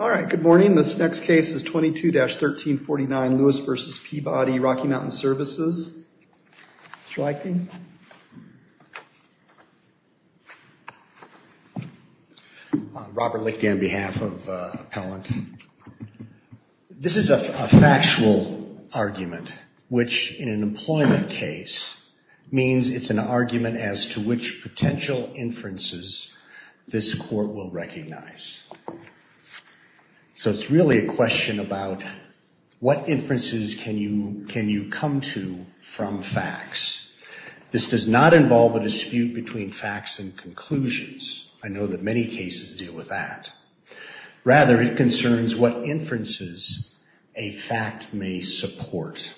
All right, good morning. This next case is 22-1349 Lewis v. Peabody Rocky Mountain Services. Robert Lickty on behalf of Appellant. This is a factual argument, which in an employment case means it's an argument as to which potential inferences this court will recognize. So it's really a question about what inferences can you come to from facts. This does not involve a dispute between facts and conclusions. I know that many cases deal with that. Rather, it concerns what inferences a fact may support.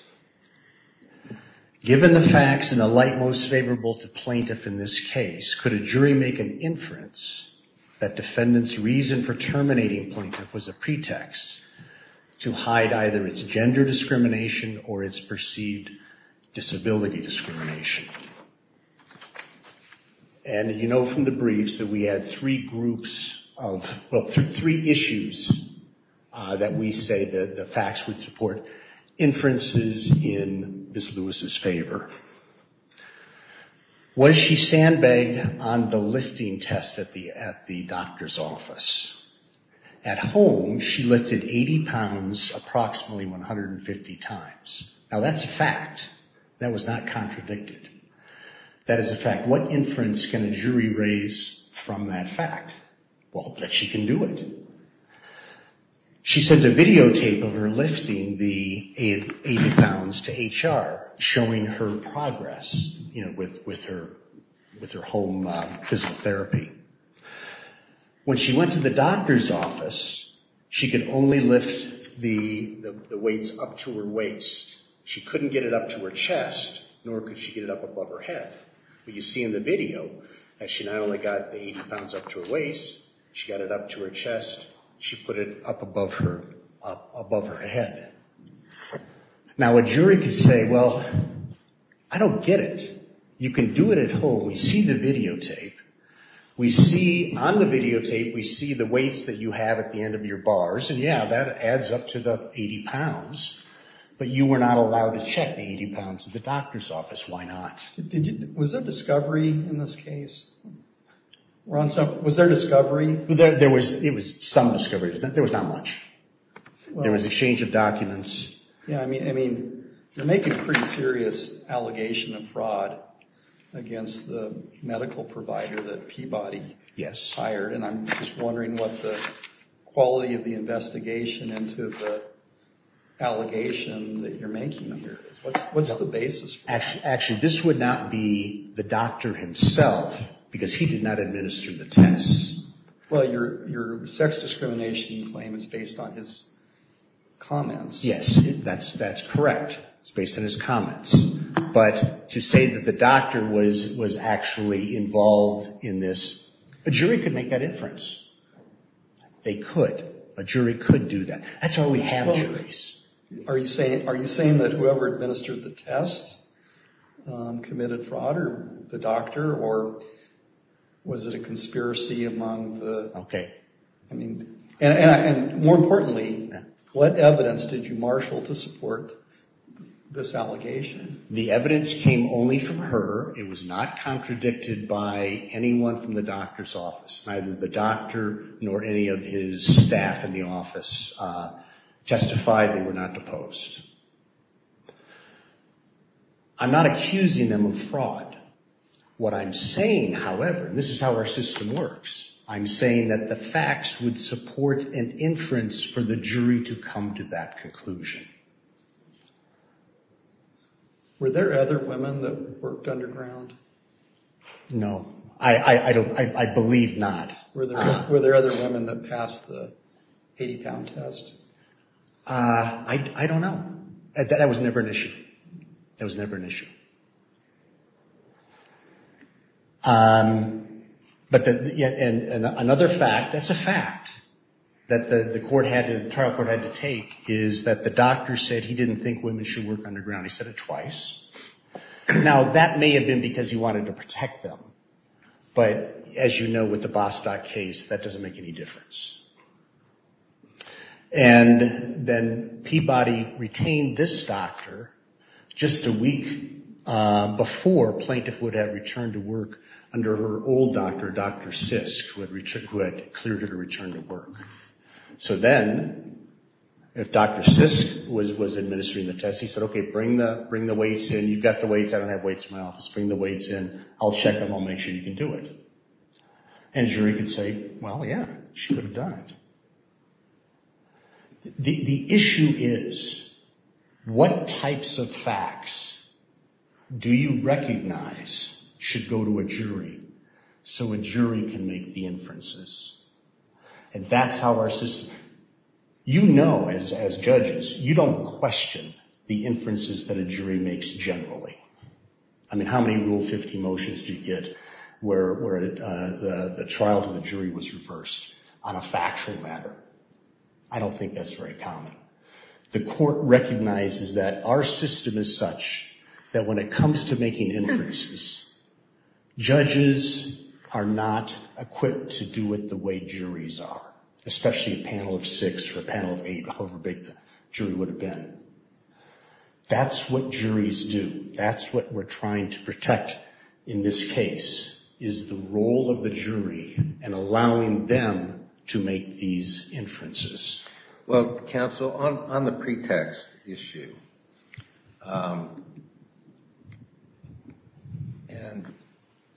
Given the facts and the light most favorable to plaintiff in this case, could a jury make an inference that defendant's reason for terminating plaintiff was a pretext to hide either its gender discrimination or its perceived disability discrimination? And you know from the briefs that we had three groups of, well, three issues that we say that the facts would support inferences in Ms. Lewis' favor. Was she sandbagged on the lifting test at the doctor's office? At home, she lifted 80 pounds approximately 150 times. Now that's a fact. That was not contradicted. That is a fact. What inference can a jury raise from that fact? Well, that she can do it. She sent a videotape of her lifting the 80 pounds to HR, showing her progress with her home physical therapy. When she went to the doctor's office, she could only lift the weights up to her waist. She couldn't get it up to her chest, nor could she get it up above her head. But you see in the video that she not only got the 80 pounds up to her waist, she got it up to her chest, she put it up above her head. Now a jury could say, well, I don't get it. You can do it at home. We see the videotape. We see on the videotape, we see the weights that you have at the end of your bars, and yeah, that adds up to the 80 pounds, but you were not allowed to check the 80 pounds at the doctor's office. Why not? Was there discovery in this case? Was there discovery? There was some discovery. There was not much. There was exchange of documents. Yeah, I mean, you're making a pretty serious allegation of fraud against the medical provider that Peabody hired, and I'm just wondering what the quality of the investigation into the allegation that you're making here is. What's the basis for that? Actually, this would not be the doctor himself, because he did not administer the tests. Well, your sex discrimination claim is based on his comments. Yes, that's correct. It's based on his comments. But to say that the doctor was actually involved in this, a jury could make that inference. They could. A jury could do that. That's why we have juries. Are you saying that whoever administered the tests committed fraud, or the doctor, or was it a conspiracy among the... Okay. I mean, and more importantly, what evidence did you marshal to support this allegation? The evidence came only from her. It was not contradicted by anyone from the doctor's office. Neither the doctor nor any of his staff in the office justified they were not to post. I'm not accusing them of fraud. What I'm saying, however, and this is how our system works, I'm saying that the facts would support an inference for the jury to come to that conclusion. Were there other women that worked underground? No. I believe not. Were there other women that passed the 80-pound test? I don't know. That was never an issue. That was never an issue. But another fact, that's a fact, that the trial court had to take is that the doctor said he didn't think women should work underground. He said it twice. Now, that may have been because he wanted to protect them, but as you know with the Bostock case, that doesn't make any difference. And then Peabody retained this doctor just a week before a plaintiff would have returned to work under her old doctor, Dr. Sisk, who had cleared her to return to work. So then, if Dr. Sisk was administering the test, he said, okay, bring the weights in. You've got the weights. I don't have weights in my office. Bring the weights in. I'll check them. I'll make sure you can do it. And a jury could say, well, yeah, she could have done it. The issue is, what types of facts do you recognize should go to a jury so a jury can make the inferences? And that's how our system, you know, as judges, you don't question the inferences that a jury makes generally. I mean, how many Rule 50 motions do you get where the trial to the jury was reversed on a factual matter? I don't think that's very common. The court recognizes that our system is such that when it comes to making inferences, judges are not equipped to do it the way juries are, especially a panel of six or a panel of eight, however big the jury would have been. That's what juries do. That's what we're trying to protect in this case, is the role of the jury and allowing them to make these inferences. Well, counsel, on the pretext issue, and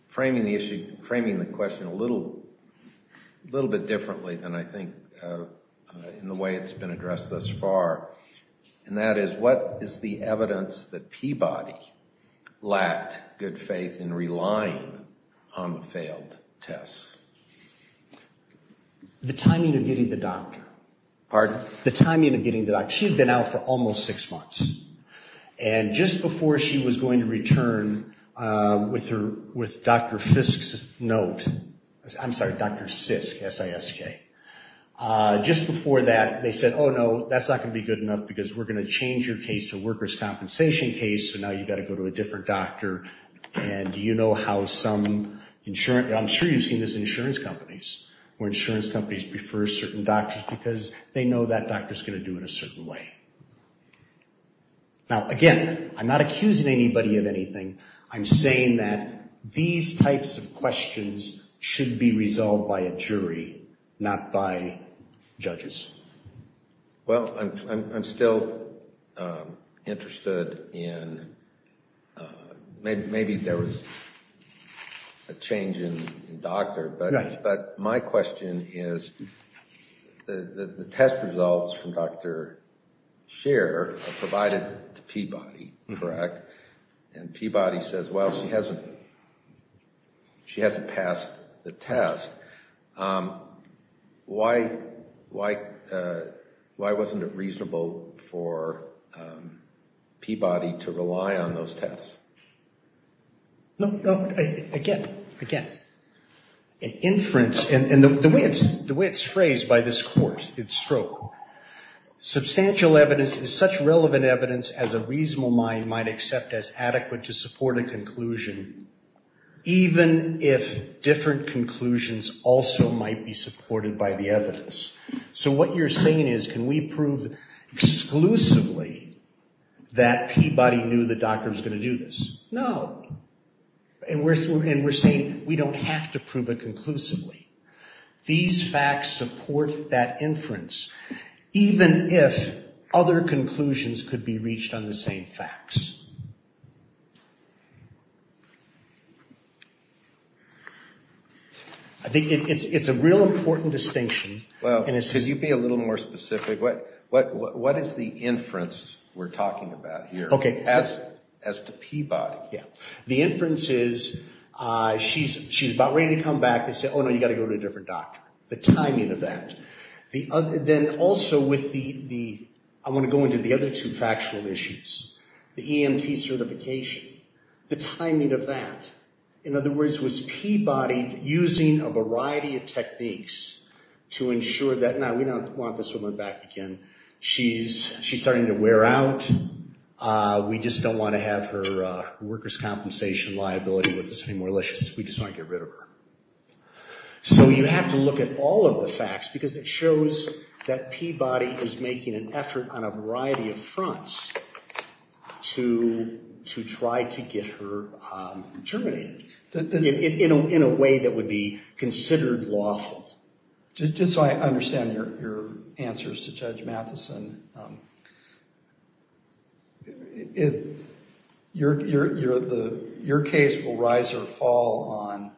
framing the issue, framing the question a little bit differently than I think in the way it's been addressed thus far, and that is, what is the evidence that Peabody lacked good faith in relying on the failed test? The timing of getting the doctor. Pardon? The timing of getting the doctor. She had been out for almost six months. And just before she was going to return with Dr. Fisk's note, I'm sorry, Dr. Sisk, S-I-S-K, just before that, they said, oh, no, that's not going to be good enough because we're going to change your case to a workers' compensation case, so now you've got to go to a different doctor. And you know how some insurance, I'm sure you've seen this in insurance companies, where insurance companies prefer certain doctors because they know that doctor's going to do it a certain way. Now, again, I'm not accusing anybody of anything. I'm saying that these types of questions should be resolved by a jury, not by judges. Well, I'm still interested in, maybe there was a change in doctor, but my question is, the test results from Dr. Sher provided to Peabody, correct? And Peabody says, well, she hasn't passed the test. Why wasn't it reasonable for Peabody to rely on those tests? No, no, again, again, inference, and the way it's phrased by this court, it's stroke. Substantial evidence is such relevant evidence as a reasonable mind might accept as adequate to support a conclusion, even if different conclusions also might be supported by the evidence. So what you're saying is, can we prove exclusively that Peabody knew the doctor was going to do this? No. And we're saying we don't have to prove it conclusively. These facts support that inference, even if other conclusions could be reached on the same facts. I think it's a real important distinction. Well, could you be a little more specific? What is the inference we're talking about here as to Peabody? The inference is, she's about ready to come back. They say, oh, no, you've got to go to a different doctor. The timing of that. Then also with the, I want to go into the other two factional issues. The EMT certification, the timing of that. In other words, was Peabody using a variety of techniques to ensure that, now we don't want this woman back again. She's starting to wear out. We just don't want to have her workers' compensation liability with us anymore. We just want to get rid of her. So you have to look at all of the facts, because it shows that Peabody is making an effort on a variety of fronts to try to get her terminated in a way that would be considered lawful. Just so I understand your answers to Judge Matheson. Your case will rise or fall on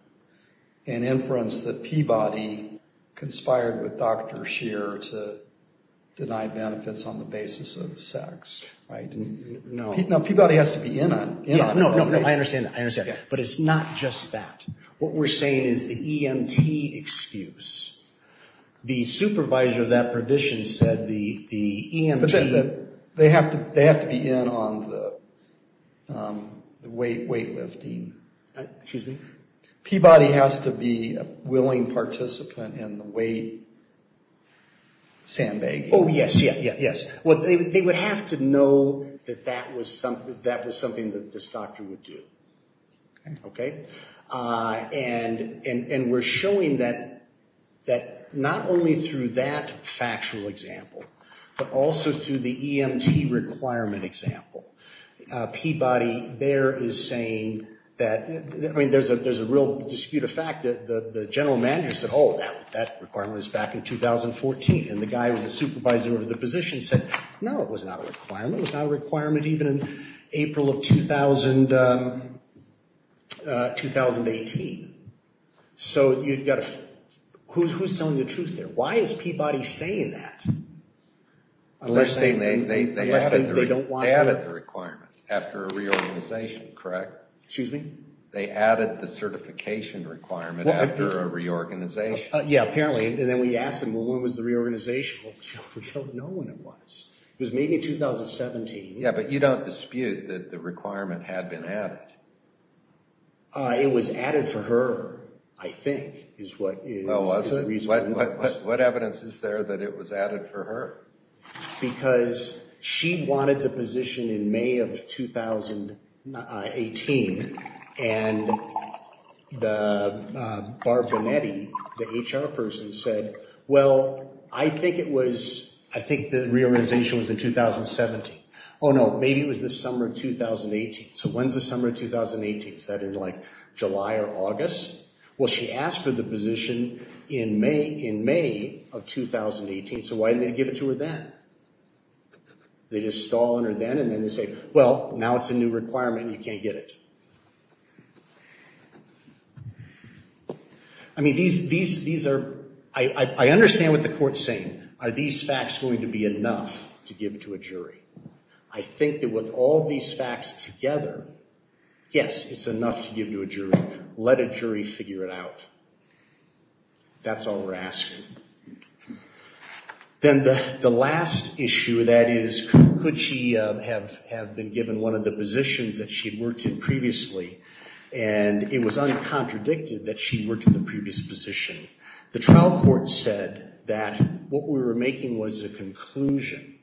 an inference that Peabody conspired with Dr. Scheer to deny benefits on the basis of sex, right? No. Now, Peabody has to be in on it. I understand that. I understand. But it's not just that. What we're saying is the EMT excuse. The supervisor of that provision said the EMT... But they have to be in on the weightlifting. Excuse me? Peabody has to be a willing participant in the weight sandbagging. Yes. They would have to know that that was something that this doctor would do. And we're showing that not only through that factual example, but also through the EMT requirement example. Peabody there is saying that... I mean, there's a real dispute of fact. The general manager said, oh, that requirement was back in 2014. And the guy who was the supervisor of the position said, no, it was not a requirement. It was not a requirement even in April of 2018. So you've got to... Who's telling the truth there? Why is Peabody saying that? Unless they don't want... They added the requirement after a reorganization, correct? Excuse me? They added the certification requirement after a reorganization. Yeah, apparently. And then we asked them, well, when was the reorganization? We don't know when it was. It was maybe 2017. Yeah, but you don't dispute that the requirement had been added. It was added for her, I think, is what... What evidence is there that it was added for her? Because she wanted the position in May of 2018. And the... The HR person said, well, I think it was... I think the reorganization was in 2017. Oh, no, maybe it was the summer of 2018. So when's the summer of 2018? Is that in, like, July or August? Well, she asked for the position in May of 2018. So why didn't they give it to her then? They just stall on her then, and then they say, well, now it's a new requirement and you can't get it. I mean, these are... I understand what the court's saying. Are these facts going to be enough to give to a jury? I think that with all these facts together, yes, it's enough to give to a jury. But let a jury figure it out. That's all we're asking. Then the last issue, that is, could she have been given one of the positions that she'd worked in previously and it was uncontradicted that she worked in the previous position? The trial court said that what we were making was a conclusion.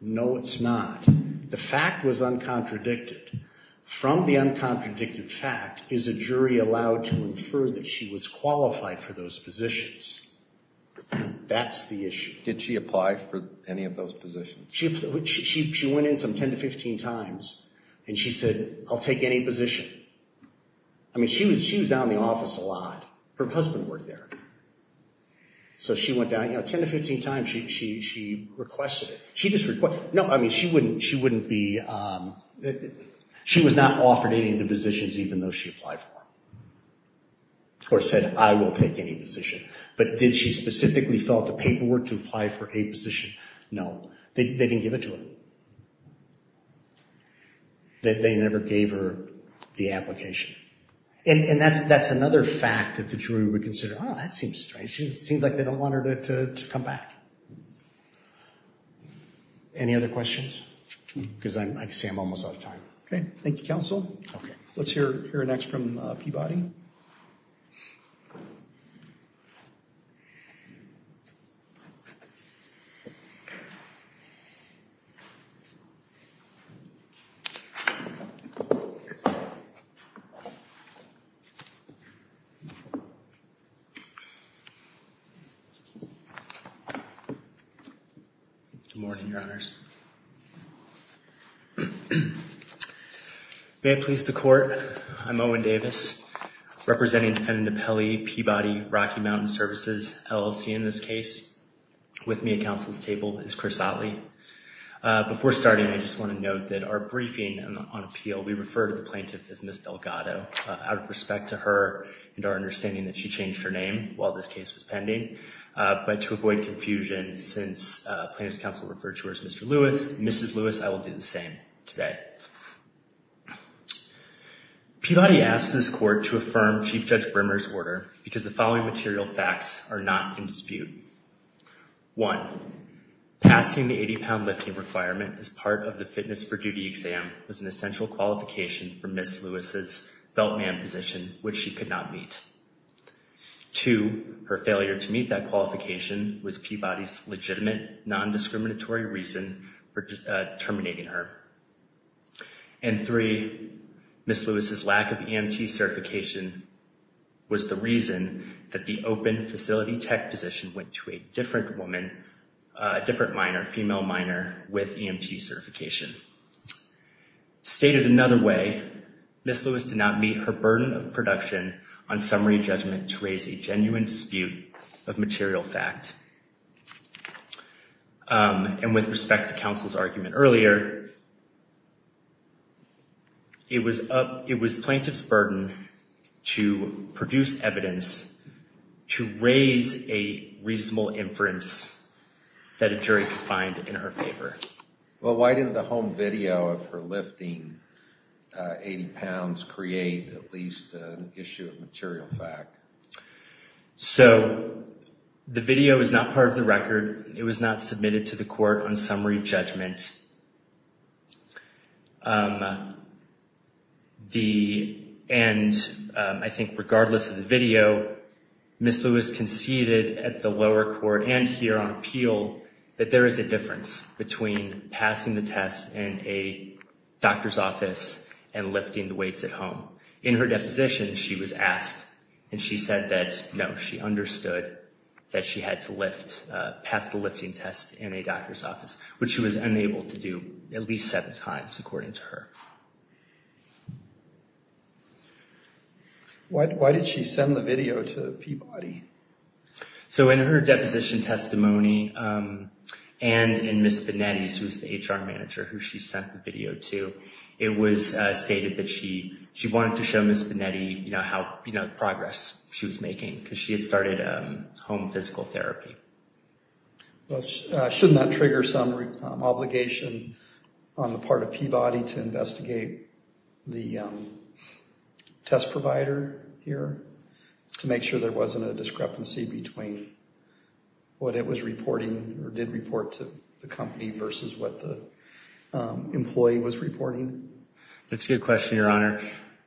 No, it's not. The fact was uncontradicted. From the uncontradicted fact, is a jury allowed to infer that she was qualified for those positions? That's the issue. Did she apply for any of those positions? She went in some 10 to 15 times, and she said, I'll take any position. I mean, she was down in the office a lot. Her husband worked there. So she went down, you know, 10 to 15 times she requested it. No, I mean, she wouldn't be, she was not offered any of the positions even though she applied for them. Or said, I will take any position. But did she specifically fill out the paperwork to apply for a position? No. They didn't give it to her. They never gave her the application. And that's another fact that the jury would consider, oh, that seems strange. Seems like they don't want her to come back. Any other questions? Because I can see I'm almost out of time. OK, thank you, counsel. OK. Let's hear next from Peabody. Good morning, Your Honors. May it please the court, I'm Owen Davis, representing defendant Peabody, Peabody, Rocky Mountain Services, LLC in this case. With me at counsel's table is Chris Otley. Before starting, I just want to note that our briefing on appeal, we refer to the plaintiff as Miss Delgado. Out of respect to her and our understanding that she changed her name while this case was pending. But to avoid confusion, since plaintiff's counsel referred to her as Mr. Lewis, Mrs. Lewis, I will do the same today. Peabody asks this court to affirm Chief Judge Brimmer's order because the following material facts are not in dispute. One, passing the 80-pound lifting requirement as part of the fitness for duty exam was an essential qualification for Miss Lewis's beltman position, which she could not meet. Two, her failure to meet that qualification was Peabody's legitimate, non-discriminatory reason for terminating her. And three, Miss Lewis's lack of EMT certification was the reason that the open facility tech position went to a different woman, a different minor, female minor with EMT certification. Stated another way, Miss Lewis did not meet her burden of production on summary judgment to raise a genuine dispute of material fact. And with respect to counsel's argument earlier, it was plaintiff's burden to produce evidence to raise a reasonable inference that a jury could find in her favor. Well, why didn't the home video of her lifting 80 pounds create at least an issue of material fact? So the video is not part of the record. It was not submitted to the court on summary judgment. And I think regardless of the video, Miss Lewis conceded at the lower court and here on appeal that there is a difference between passing the test in a doctor's office and lifting the weights at home. In her deposition, she was asked and she said that no, she understood that she had to lift, pass the lifting test in a doctor's office, which she was unable to do at least seven times, according to her. Why did she send the video to Peabody? So in her deposition testimony and in Miss Benetti's, who's the HR manager who she sent the video to, it was stated that she wanted to show Miss Benetti, you know, how, you know, the progress she was making because she had started home physical therapy. Shouldn't that trigger some obligation on the part of Peabody to investigate the test provider here to make sure there wasn't a discrepancy between what it was reporting or did report to the company versus what the employee was reporting? That's a good question, Your Honor.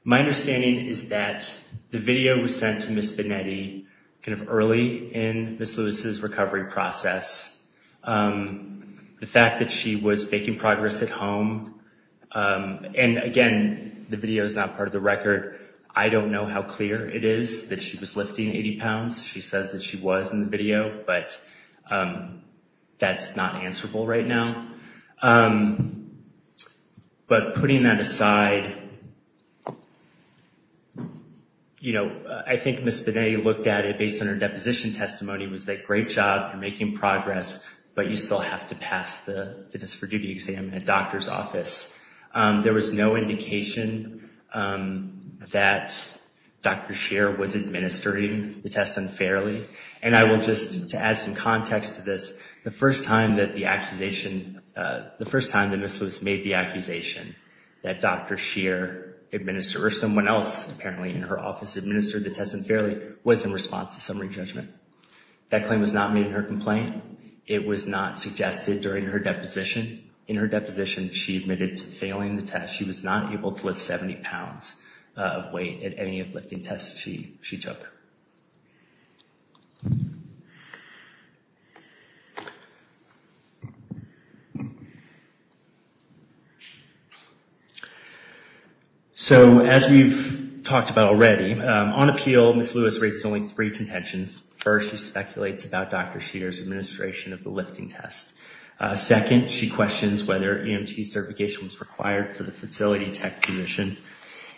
My understanding is that the video was sent to Miss Benetti kind of early in Miss Lewis's recovery process. The fact that she was making progress at home and again, the video is not part of the record. I don't know how clear it is that she was lifting 80 pounds. She says that she was in the video, but that's not answerable right now. But putting that aside, you know, I think Miss Benetti looked at it based on her deposition testimony, was that great job, you're making progress, but you still have to pass the test for duty exam in a doctor's office. There was no indication that Dr. Scheer was administering the test unfairly. And I will just, to add some context to this, the first time that the accusation, the first time that Miss Lewis made the accusation that Dr. Scheer administered or someone else apparently in her office administered the test unfairly was in response to summary judgment. That claim was not made in her complaint. It was not suggested during her deposition. In her deposition, she admitted to failing the test. She was not able to lift 70 pounds of weight at any of the lifting tests she took. So as we've talked about already, on appeal, Miss Lewis raises only three contentions. First, she speculates about Dr. Scheer's administration of the lifting test. Second, she questions whether EMT certification was required for the facility tech position.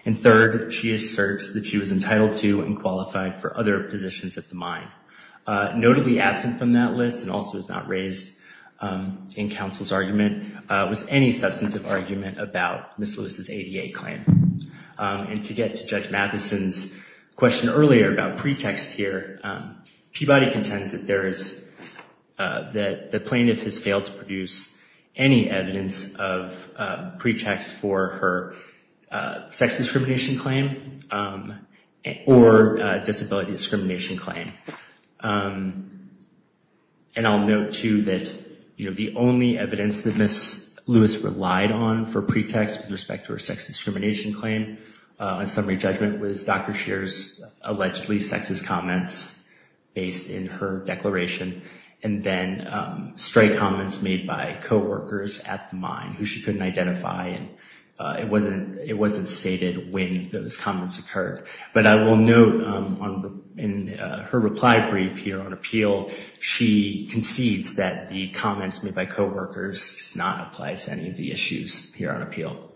And third, she asserts that she was entitled to and qualified for other positions at the mine. Notably absent from that list and also was not raised in counsel's argument was any substantive argument about Miss Lewis's ADA claim. And to get to Judge Matheson's question earlier about pretext here, Peabody contends that there is, that the plaintiff has failed to produce any evidence of pretext for her sex discrimination claim or disability discrimination claim. And I'll note too that the only evidence that Miss Lewis relied on for pretext with respect to her sex discrimination claim, a summary judgment was Dr. Scheer's allegedly sexist comments based in her declaration. And then straight comments made by coworkers at the mine who she couldn't identify. It wasn't stated when those comments occurred. But I will note in her reply brief here on appeal, she concedes that the comments made by coworkers does not apply to any of the issues here on appeal.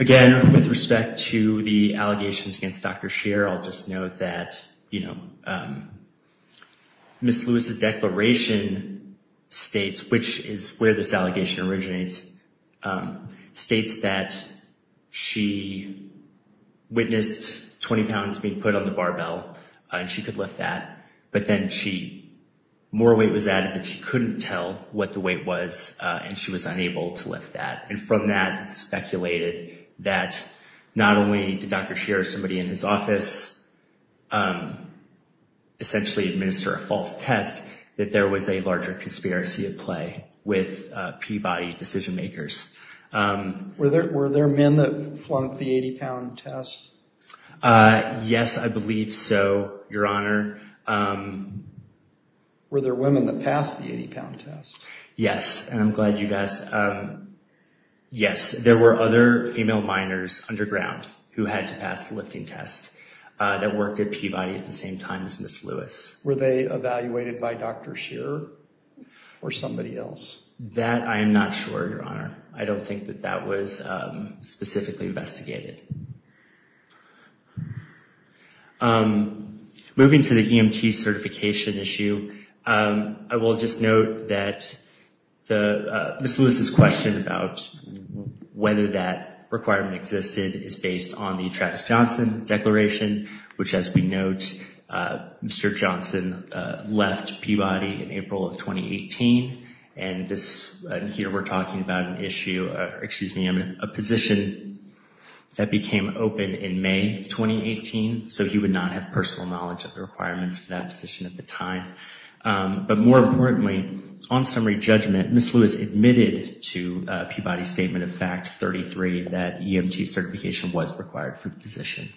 Again, with respect to the allegations against Dr. Scheer, I'll just note that, you know, Miss Lewis's declaration states, which is where this allegation originates, states that she witnessed 20 pounds being put on the barbell and she could lift that. But then she, more weight was added that she couldn't tell what the weight was and she was unable to lift that. And from that, it's speculated that not only did Dr. Scheer or somebody in his office essentially administer a false test, that there was a larger conspiracy at play with Peabody decision makers. Were there men that flunked the 80-pound test? Yes, I believe so, Your Honor. Were there women that passed the 80-pound test? Yes, and I'm glad you asked. Yes, there were other female minors underground who had to pass the lifting test that worked at Peabody at the same time as Miss Lewis. Were they evaluated by Dr. Scheer or somebody else? That I am not sure, Your Honor. I don't think that that was specifically investigated. Moving to the EMT certification issue, I will just note that Miss Lewis's question about whether that requirement existed is based on the Travis Johnson Declaration, which, as we note, Mr. Johnson left Peabody in April of 2018. And here we're talking about an issue, excuse me, a position that became open in May 2018. So he would not have personal knowledge of the requirements for that position at the time. But more importantly, on summary judgment, Miss Lewis admitted to Peabody's statement of fact 33 that EMT certification was required for the position.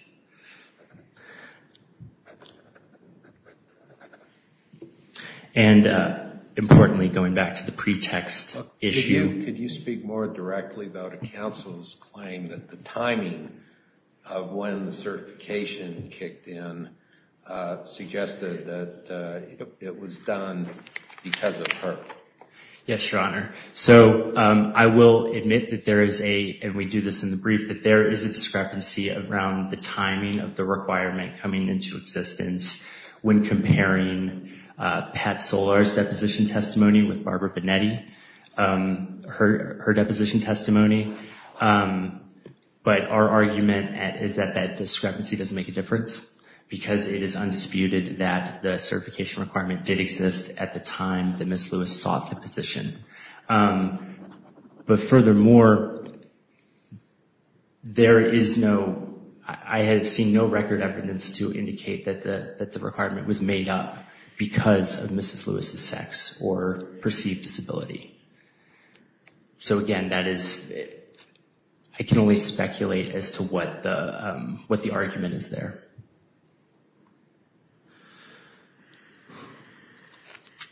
And importantly, going back to the pretext issue. Could you speak more directly about a counsel's claim that the timing of when the certification kicked in suggested that it was done because of her? Yes, Your Honor. So I will admit that there is a, and we do this in the brief, that there is a discrepancy around the timing of the requirement coming into existence when comparing Pat Solar's deposition testimony with Barbara Bonetti, her deposition testimony. But our argument is that that discrepancy doesn't make a difference because it is undisputed that the certification requirement did exist at the time that Miss Lewis sought the position. But furthermore, there is no, I have seen no record evidence to indicate that the requirement was made up because of Mrs. Lewis's sex or perceived disability. So again, that is, I can only speculate as to what the argument is there.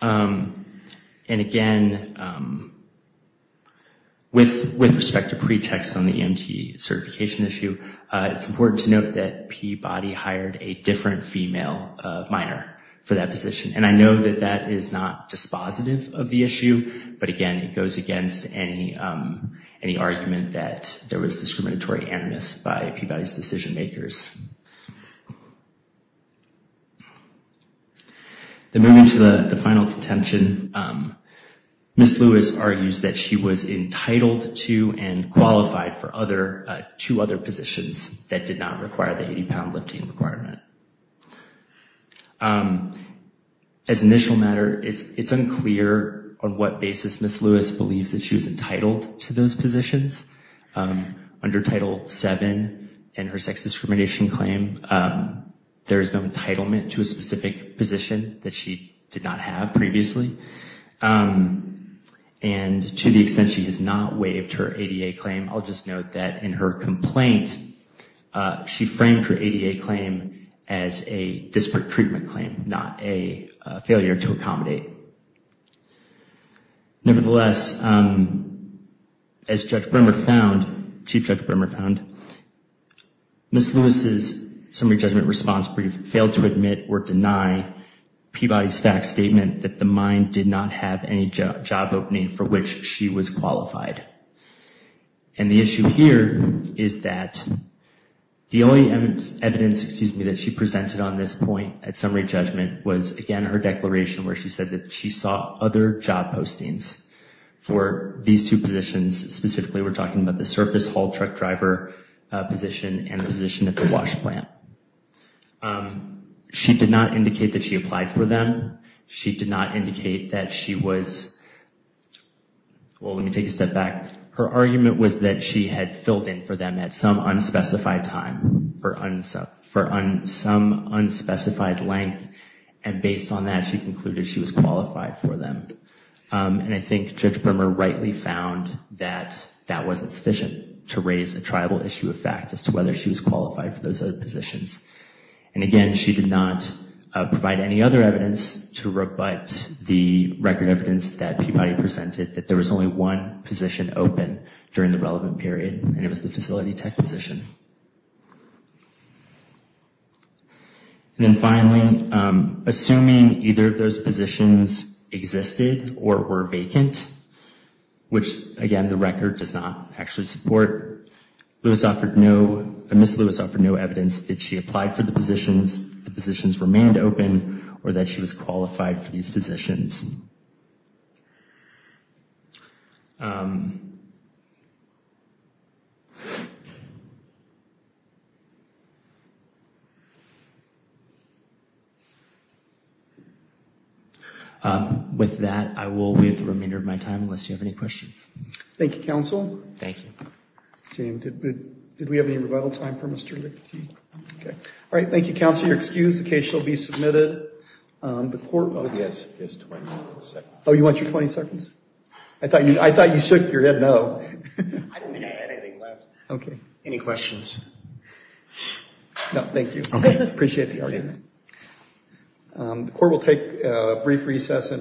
And again, with respect to pretext on the EMT certification issue, it's important to note that Peabody hired a different female minor for that position. And I know that that is not dispositive of the issue, but again, it goes against any argument that there was discriminatory animus by Peabody's decision-makers. Moving to the final contention, Miss Lewis argues that she was entitled to and qualified for two other positions that did not require the 80-pound lifting requirement. As an initial matter, it's unclear on what basis Miss Lewis believes that she was entitled to those positions. Under Title VII and her sex discrimination claim, there is no entitlement to a specific position that she did not have previously. And to the extent she has not waived her ADA claim, I'll just note that in her complaint, she framed her ADA claim as a disparate treatment claim, not a failure to accommodate. Nevertheless, as Chief Judge Bremmer found, Miss Lewis's summary judgment response failed to admit or deny Peabody's fact statement that the mine did not have any job opening for which she was qualified. And the issue here is that the only evidence that she presented on this point at summary judgment was, again, her declaration where she said that she saw other job postings for these two positions. Specifically, we're talking about the surface haul truck driver position and the position at the wash plant. She did not indicate that she applied for them. She did not indicate that she was, well, let me take a step back. Her argument was that she had filled in for them at some unspecified time for some unspecified length. And based on that, she concluded she was qualified for them. And I think Judge Bremmer rightly found that that wasn't sufficient to raise a tribal issue of fact as to whether she was qualified for those other positions. And again, she did not provide any other evidence to rebut the record evidence that Peabody presented, that there was only one position open during the relevant period, and it was the facility tech position. And then finally, assuming either of those positions existed or were vacant, which, again, the record does not actually support, Ms. Lewis offered no evidence that she applied for the positions, the positions remained open, or that she was qualified for these positions. With that, I will leave the remainder of my time, unless you have any questions. Thank you, counsel. Thank you. James, did we have any rebuttal time for Mr. Lickety? Okay. All right. Thank you, counsel. You're excused. Okay. Thank you. Thank you. Thank you. Thank you. Thank you. Thank you. Oh, you want your 20 seconds? I thought you shook your head no. I don't think I had anything left. Okay. Any questions? No, thank you. Okay. Appreciate the argument. The court will take a brief recess.